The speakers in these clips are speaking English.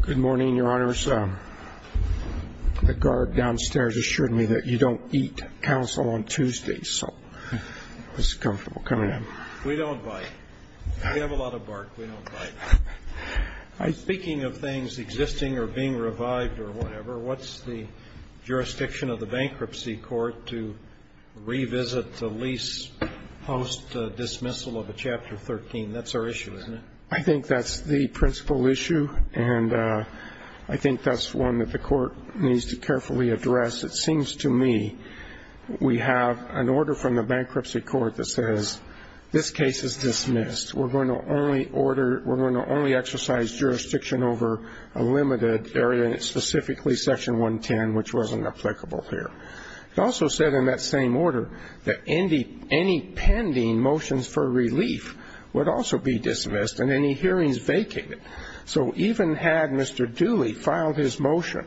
Good morning, Your Honors. The guard downstairs assured me that you don't eat counsel on Tuesdays, so it was comfortable coming in. We don't bite. We have a lot of bark. We don't bite. Speaking of things existing or being revived or whatever, what's the jurisdiction of the bankruptcy court to revisit the lease post-dismissal of a Chapter 13? That's our issue, isn't it? I think that's the principal issue, and I think that's one that the court needs to carefully address. It seems to me we have an order from the bankruptcy court that says this case is dismissed. We're going to only exercise jurisdiction over a limited area, specifically Section 110, which wasn't applicable here. It also said in that same order that any pending motions for relief would also be dismissed and any hearings vacated. So even had Mr. Dooley filed his motion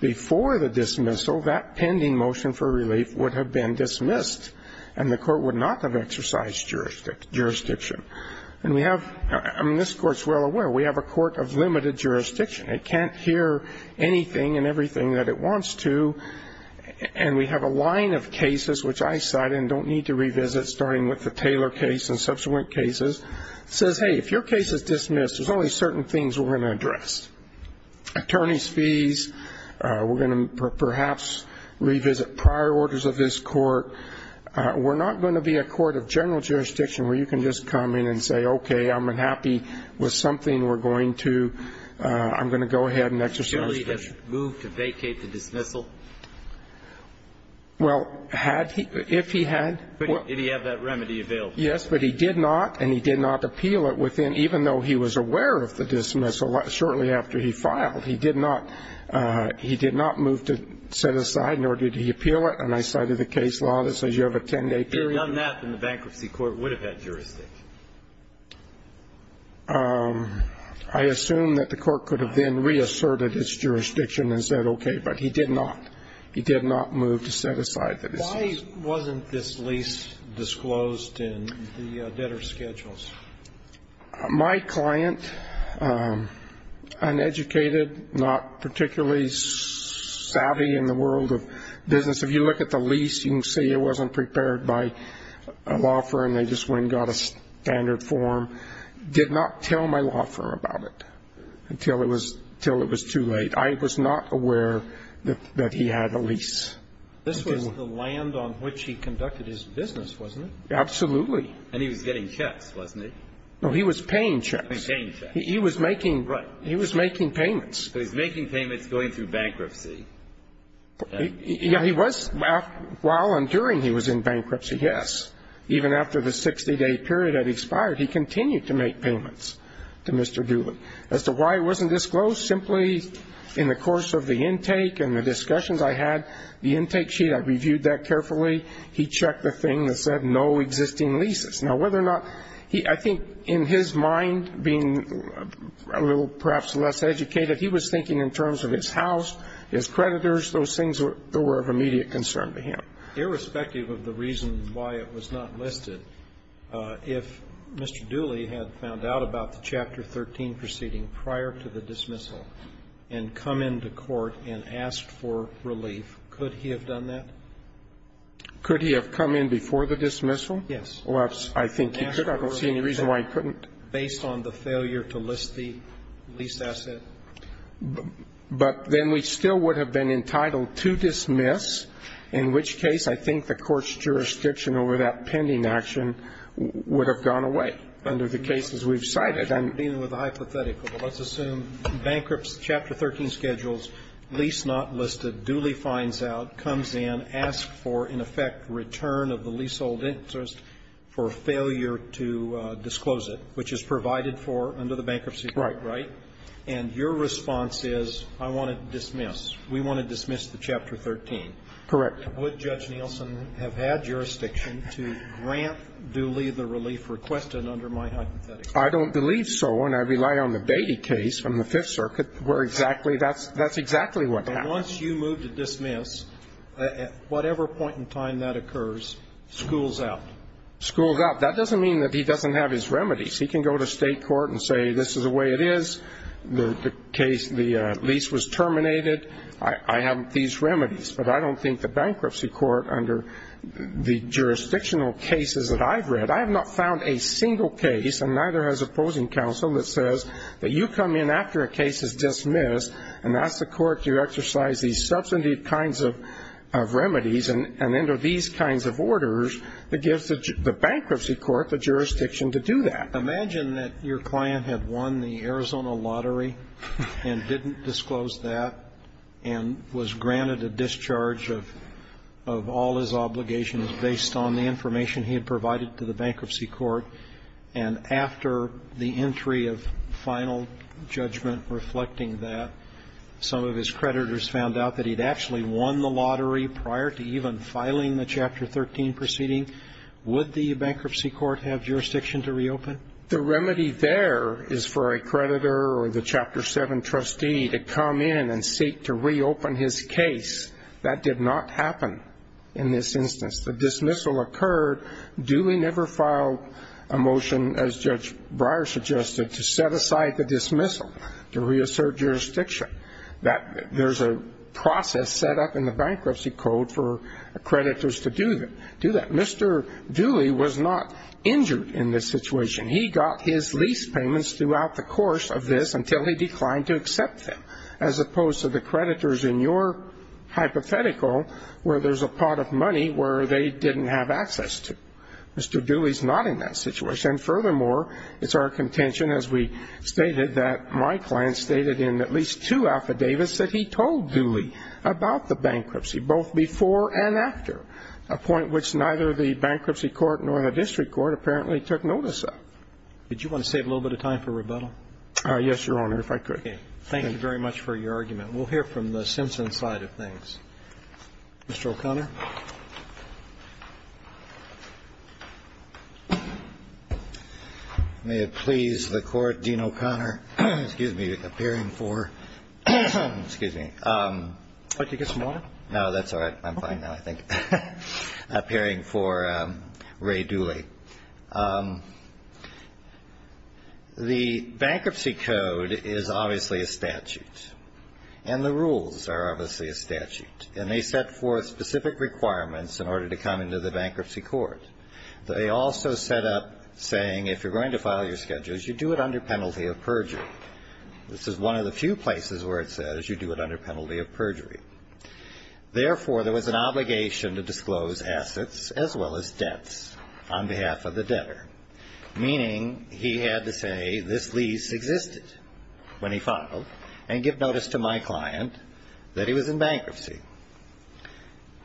before the dismissal, that pending motion for relief would have been dismissed, and the court would not have exercised jurisdiction. I mean, this court's well aware we have a court of limited jurisdiction. It can't hear anything and everything that it wants to, and we have a line of cases which I cite and don't need to revisit, starting with the Taylor case and subsequent cases. It says, hey, if your case is dismissed, there's only certain things we're going to address. Attorney's fees, we're going to perhaps revisit prior orders of this court. We're not going to be a court of general jurisdiction where you can just come in and say, okay, I'm unhappy with something we're going to. I'm going to go ahead and exercise jurisdiction. Did Dooley move to vacate the dismissal? Well, had he, if he had. Did he have that remedy available? Yes, but he did not, and he did not appeal it within, even though he was aware of the dismissal shortly after he filed. He did not move to set aside, nor did he appeal it, and I cited the case law that says you have a 10-day period. Had he done that, then the bankruptcy court would have had jurisdiction. I assume that the court could have then reasserted its jurisdiction and said, okay, but he did not. Why wasn't this lease disclosed in the debtor schedules? My client, uneducated, not particularly savvy in the world of business. If you look at the lease, you can see it wasn't prepared by a law firm. They just went and got a standard form. Did not tell my law firm about it until it was too late. I was not aware that he had a lease. This was the land on which he conducted his business, wasn't it? Absolutely. And he was getting checks, wasn't he? No, he was paying checks. Paying checks. He was making payments. But he's making payments going through bankruptcy. Yeah, he was. While and during he was in bankruptcy, yes. Even after the 60-day period had expired, he continued to make payments to Mr. Dooley. As to why it wasn't disclosed, simply in the course of the intake and the discussions I had, the intake sheet, I reviewed that carefully. He checked the thing that said no existing leases. Now, whether or not he ñ I think in his mind, being a little perhaps less educated, he was thinking in terms of his house, his creditors, those things that were of immediate concern to him. Irrespective of the reason why it was not listed, if Mr. Dooley had found out about the Chapter 13 proceeding prior to the dismissal and come into court and asked for relief, could he have done that? Could he have come in before the dismissal? Yes. Well, I think he could. I don't see any reason why he couldn't. Based on the failure to list the lease asset. But then we still would have been entitled to dismiss, in which case I think the court's jurisdiction over that pending action would have gone away under the cases we've cited. I'm dealing with a hypothetical. Let's assume bankruptcy, Chapter 13 schedules, lease not listed, Dooley finds out, comes in, asks for, in effect, return of the leasehold interest for failure to disclose it, which is provided for under the bankruptcy right. Right. And your response is, I want to dismiss. We want to dismiss the Chapter 13. Correct. Would Judge Nielsen have had jurisdiction to grant Dooley the relief requested under my hypothetical? I don't believe so. And I rely on the Beatty case from the Fifth Circuit where exactly that's exactly what happened. And once you move to dismiss, at whatever point in time that occurs, schools out. Schools out. That doesn't mean that he doesn't have his remedies. He can go to state court and say, this is the way it is. The case, the lease was terminated. I have these remedies. But I don't think the bankruptcy court under the jurisdictional cases that I've read, I have not found a single case, and neither has opposing counsel, that says that you come in after a case is dismissed and ask the court to exercise these substantive kinds of remedies and enter these kinds of orders that gives the bankruptcy court the jurisdiction to do that. Imagine that your client had won the Arizona lottery and didn't disclose that and was granted a discharge of all his obligations based on the information he had provided to the bankruptcy court. And after the entry of final judgment reflecting that, some of his creditors found out that he'd actually won the lottery prior to even filing the Chapter 13 proceeding. Would the bankruptcy court have jurisdiction to reopen? The remedy there is for a creditor or the Chapter 7 trustee to come in and seek to reopen his case. That did not happen in this instance. The dismissal occurred. Dewey never filed a motion, as Judge Breyer suggested, to set aside the dismissal, to reassert jurisdiction. There's a process set up in the bankruptcy code for creditors to do that. Mr. Dewey was not injured in this situation. He got his lease payments throughout the course of this until he declined to accept them, as opposed to the creditors in your hypothetical where there's a pot of money where they didn't have access to. Mr. Dewey's not in that situation. And, furthermore, it's our contention, as we stated, that my client stated in at least two affidavits that he told Dewey about the bankruptcy, both before and after, a point which neither the bankruptcy court nor the district court apparently took notice of. Did you want to save a little bit of time for rebuttal? Yes, Your Honor, if I could. Okay. Thank you very much for your argument. We'll hear from the Simpson side of things. Mr. O'Connor. May it please the Court, Dean O'Connor, excuse me, appearing for, excuse me. Would you like to get some water? No, that's all right. I'm fine now, I think, appearing for Ray Dooley. The bankruptcy code is obviously a statute, and the rules are obviously a statute. And they set forth specific requirements in order to come into the bankruptcy court. They also set up saying if you're going to file your schedules, you do it under penalty of perjury. This is one of the few places where it says you do it under penalty of perjury. Therefore, there was an obligation to disclose assets as well as debts on behalf of the debtor, meaning he had to say this lease existed when he filed and give notice to my client that he was in bankruptcy.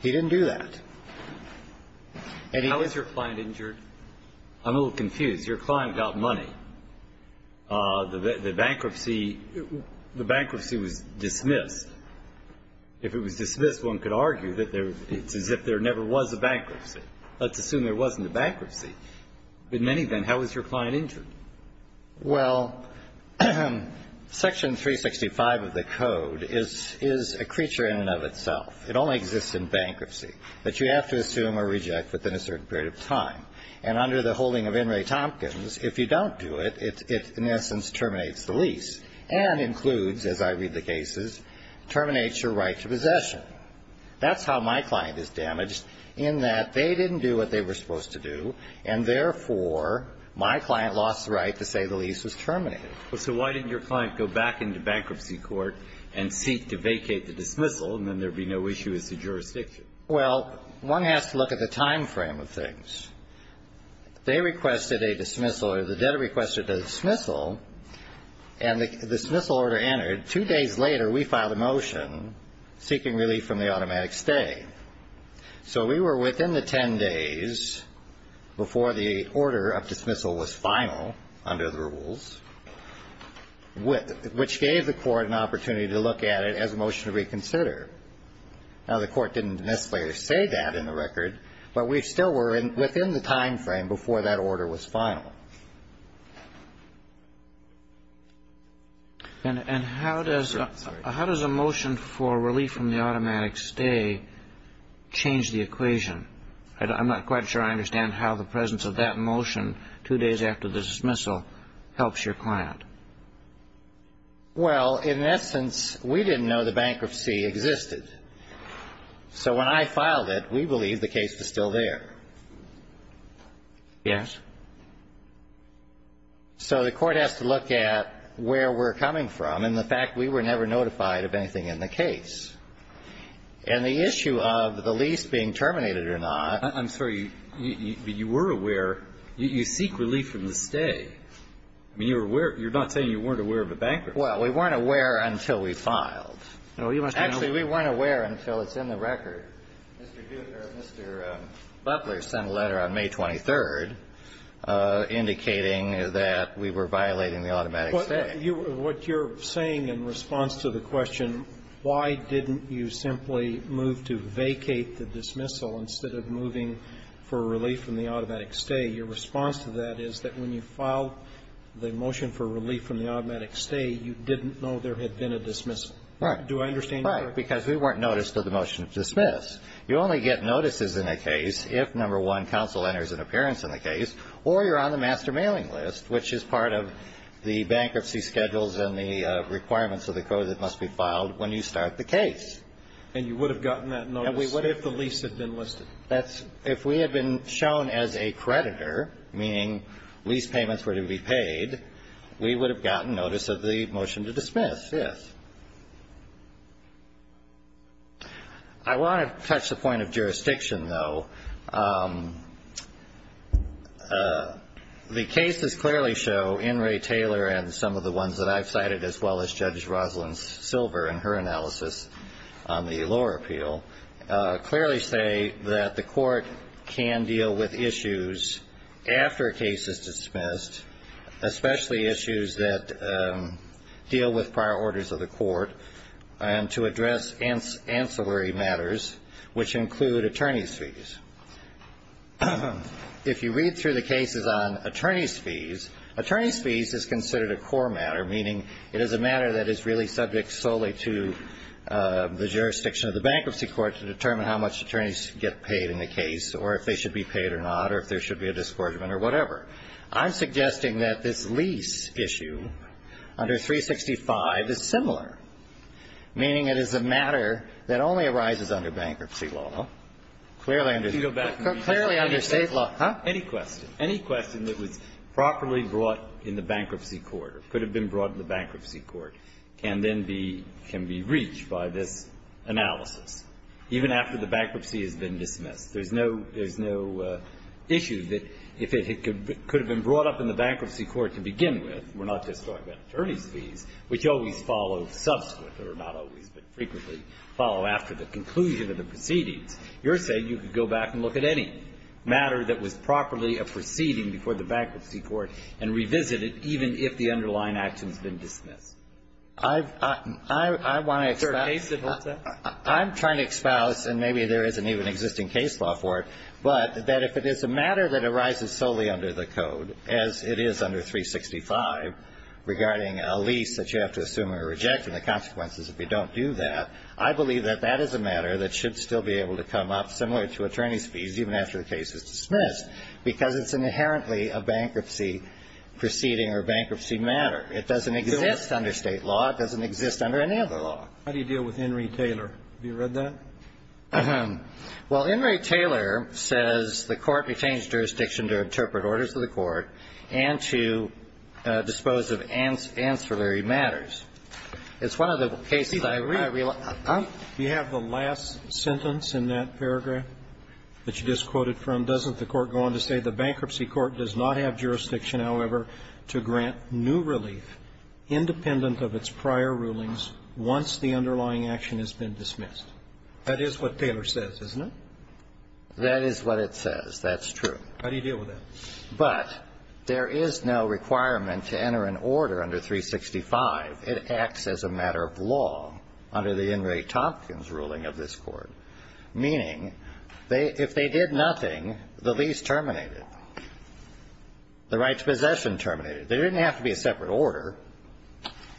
He didn't do that. How was your client injured? I'm a little confused. Your client got money. The bankruptcy was dismissed. If it was dismissed, one could argue that it's as if there never was a bankruptcy. Let's assume there wasn't a bankruptcy. In any event, how was your client injured? Well, Section 365 of the code is a creature in and of itself. It only exists in bankruptcy that you have to assume or reject within a certain period of time. And under the holding of In re Tompkins, if you don't do it, it in essence terminates the lease and includes, as I read the cases, terminates your right to possession. That's how my client is damaged in that they didn't do what they were supposed to do, and therefore my client lost the right to say the lease was terminated. So why didn't your client go back into bankruptcy court and seek to vacate the dismissal, and then there would be no issue as to jurisdiction? Well, one has to look at the time frame of things. They requested a dismissal, or the debtor requested a dismissal, and the dismissal order entered. Two days later, we filed a motion seeking relief from the automatic stay. So we were within the 10 days before the order of dismissal was final under the rules, which gave the court an opportunity to look at it as a motion to reconsider. Now, the court didn't necessarily say that in the record, but we still were within the time frame before that order was final. And how does a motion for relief from the automatic stay change the equation? I'm not quite sure I understand how the presence of that motion two days after the dismissal helps your client. Well, in essence, we didn't know the bankruptcy existed. So when I filed it, we believed the case was still there. Yes. So the court has to look at where we're coming from and the fact we were never notified of anything in the case. And the issue of the lease being terminated or not. I'm sorry. You were aware. You seek relief from the stay. I mean, you were aware. You're not saying you weren't aware of the bankruptcy. Well, we weren't aware until we filed. Actually, we weren't aware until it's in the record. Mr. Butler sent a letter on May 23rd indicating that we were violating the automatic stay. What you're saying in response to the question, why didn't you simply move to vacate the dismissal instead of moving for relief from the automatic stay, your response to that is that when you filed the motion for relief from the automatic stay, you didn't know there had been a dismissal. Right. Do I understand you correctly? Right. Because we weren't noticed of the motion to dismiss. You only get notices in a case if, number one, counsel enters an appearance in the case or you're on the master mailing list, which is part of the bankruptcy schedules and the requirements of the code that must be filed when you start the case. And you would have gotten that notice if the lease had been listed. If we had been shown as a creditor, meaning lease payments were to be paid, we would have gotten notice of the motion to dismiss, yes. I want to touch the point of jurisdiction, though. The cases clearly show, in Ray Taylor and some of the ones that I've cited as well as Judge Rosalynn Silver in her analysis on the lower appeal, clearly say that the cases deal with prior orders of the court and to address ancillary matters, which include attorney's fees. If you read through the cases on attorney's fees, attorney's fees is considered a core matter, meaning it is a matter that is really subject solely to the jurisdiction of the bankruptcy court to determine how much attorneys get paid in the case or if they should be paid or not or if there should be a discouragement or whatever. I'm suggesting that this lease issue under 365 is similar, meaning it is a matter that only arises under bankruptcy law, clearly under State law. Huh? Any question. Any question that was properly brought in the bankruptcy court or could have been brought in the bankruptcy court can then be reached by this analysis, even after the bankruptcy has been dismissed. There's no issue that if it could have been brought up in the bankruptcy court to begin with, we're not just talking about attorney's fees, which always follow subsequent or not always, but frequently follow after the conclusion of the proceedings, you're saying you could go back and look at any matter that was properly a proceeding before the bankruptcy court and revisit it, even if the underlying action has been dismissed. I want to expouse. Is there a case that holds that? I'm trying to expouse, and maybe there isn't even existing case law for it, but that if it is a matter that arises solely under the code, as it is under 365 regarding a lease that you have to assume or reject and the consequences if you don't do that, I believe that that is a matter that should still be able to come up, similar to attorney's fees, even after the case is dismissed, because it's inherently a bankruptcy proceeding or bankruptcy matter. It doesn't exist under State law. It doesn't exist under any other law. How do you deal with Henry Taylor? Have you read that? Well, Henry Taylor says the Court retains jurisdiction to interpret orders to the Court and to dispose of ancillary matters. It's one of the cases I realize. Do you have the last sentence in that paragraph that you just quoted from? Doesn't the Court go on to say, The bankruptcy court does not have jurisdiction, however, to grant new relief independent of its prior rulings once the underlying action has been dismissed? That is what Taylor says, isn't it? That is what it says. That's true. How do you deal with that? But there is no requirement to enter an order under 365. It acts as a matter of law under the Inmate Tompkins ruling of this Court, meaning if they did nothing, the lease terminated, the right to possession terminated. There didn't have to be a separate order.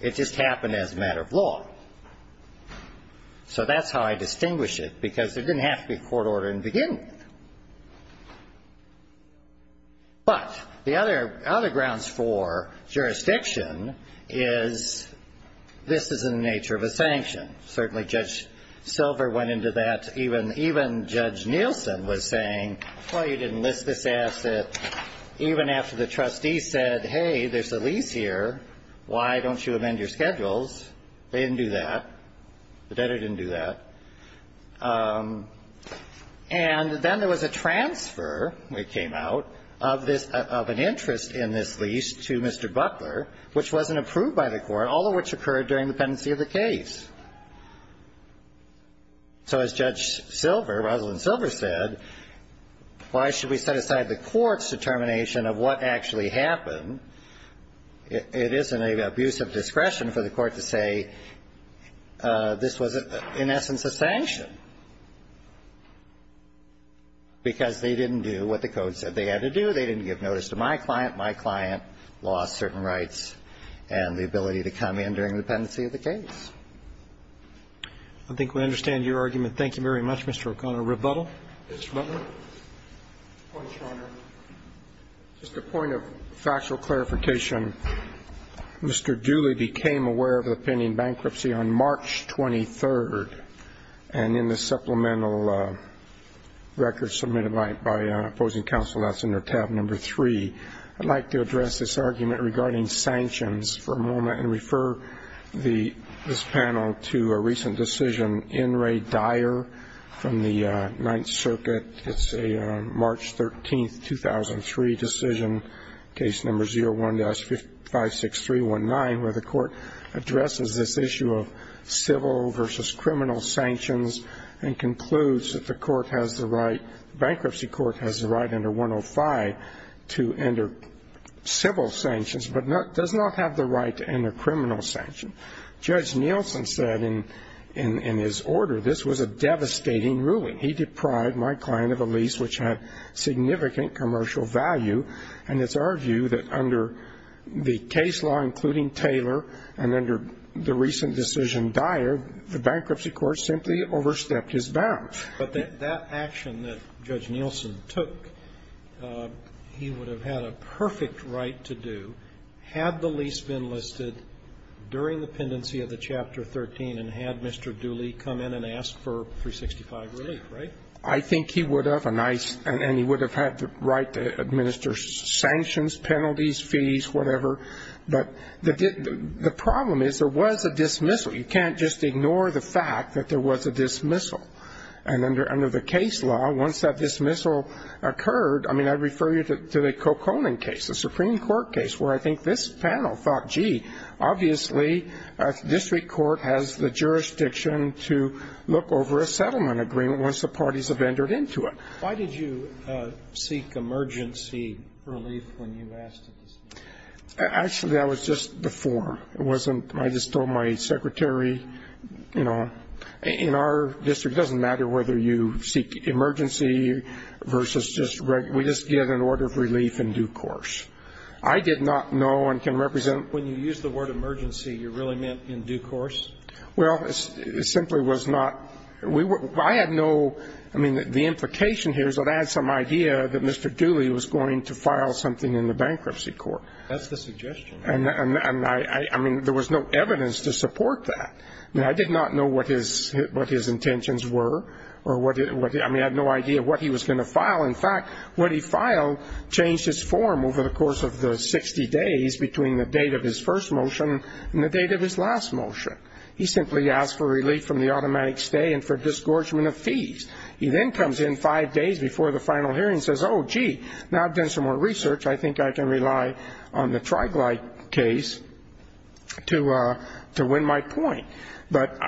It just happened as a matter of law. So that's how I distinguish it, because there didn't have to be a court order in the beginning. But the other grounds for jurisdiction is this is in the nature of a sanction. Certainly Judge Silver went into that. Even Judge Nielsen was saying, Well, you didn't list this asset. Even after the trustee said, Hey, there's a lease here. Why don't you amend your schedules? They didn't do that. The debtor didn't do that. And then there was a transfer, it came out, of an interest in this lease to Mr. Buckler, which wasn't approved by the Court, all of which occurred during the pendency of the case. So as Judge Silver, Rosalyn Silver, said, Why should we set aside the Court's determination of what actually happened? It isn't an abuse of discretion for the Court to say this was, in essence, a sanction. Because they didn't do what the Code said they had to do. They didn't give notice to my client. My client lost certain rights and the ability to come in during the pendency of the case. I think we understand your argument. Thank you very much, Mr. O'Connor. Rebuttal? Mr. Buckler? Point of order. Just a point of factual clarification. Mr. Dooley became aware of the pending bankruptcy on March 23rd. And in the supplemental record submitted by opposing counsel, that's under tab number 3. I'd like to address this argument regarding sanctions for a moment and refer this panel to a recent decision in Ray Dyer from the Ninth Circuit. It's a March 13th, 2003 decision, case number 01-56319, where the Court addresses this issue of civil versus criminal sanctions and concludes that the bankruptcy court has the right under 105 to enter civil sanctions but does not have the right to enter criminal sanctions. Judge Nielsen said in his order, this was a devastating ruling. He deprived my client of a lease which had significant commercial value. And it's our view that under the case law, including Taylor, and under the recent decision Dyer, the bankruptcy court simply overstepped his bounds. But that action that Judge Nielsen took, he would have had a perfect right to do had the lease been listed during the pendency of the Chapter 13 and had Mr. Dooley come in and asked for 365 relief, right? I think he would have, and he would have had the right to administer sanctions, penalties, fees, whatever. But the problem is there was a dismissal. You can't just ignore the fact that there was a dismissal. And under the case law, once that dismissal occurred, I mean, I refer you to the Coconin case, a Supreme Court case where I think this panel thought, gee, obviously a district court has the jurisdiction to look over a settlement agreement once the parties have entered into it. Why did you seek emergency relief when you asked to dismiss? Actually, that was just before. It wasn't, I just told my secretary, you know, in our district it doesn't matter whether you seek emergency versus just regular. We just get an order of relief in due course. I did not know and can represent. When you used the word emergency, you really meant in due course? Well, it simply was not. I had no, I mean, the implication here is that I had some idea that Mr. Dooley was going to file something in the bankruptcy court. That's the suggestion. I mean, there was no evidence to support that. I did not know what his intentions were. I mean, I had no idea what he was going to file. In fact, what he filed changed his form over the course of the 60 days between the date of his first motion and the date of his last motion. He simply asked for relief from the automatic stay and for disgorgement of fees. He then comes in five days before the final hearing and says, oh, gee, now I've done some more research. I think I can rely on the Triglide case to win my point. But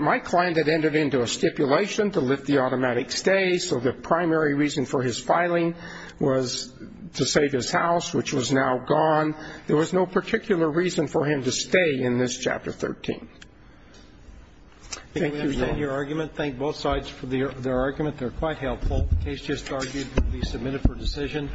my client had entered into a stipulation to lift the automatic stay, so the primary reason for his filing was to save his house, which was now gone. There was no particular reason for him to stay in this Chapter 13. Thank you, Your Honor. Thank both sides for their argument. They're quite helpful. The case just argued to be submitted for decision.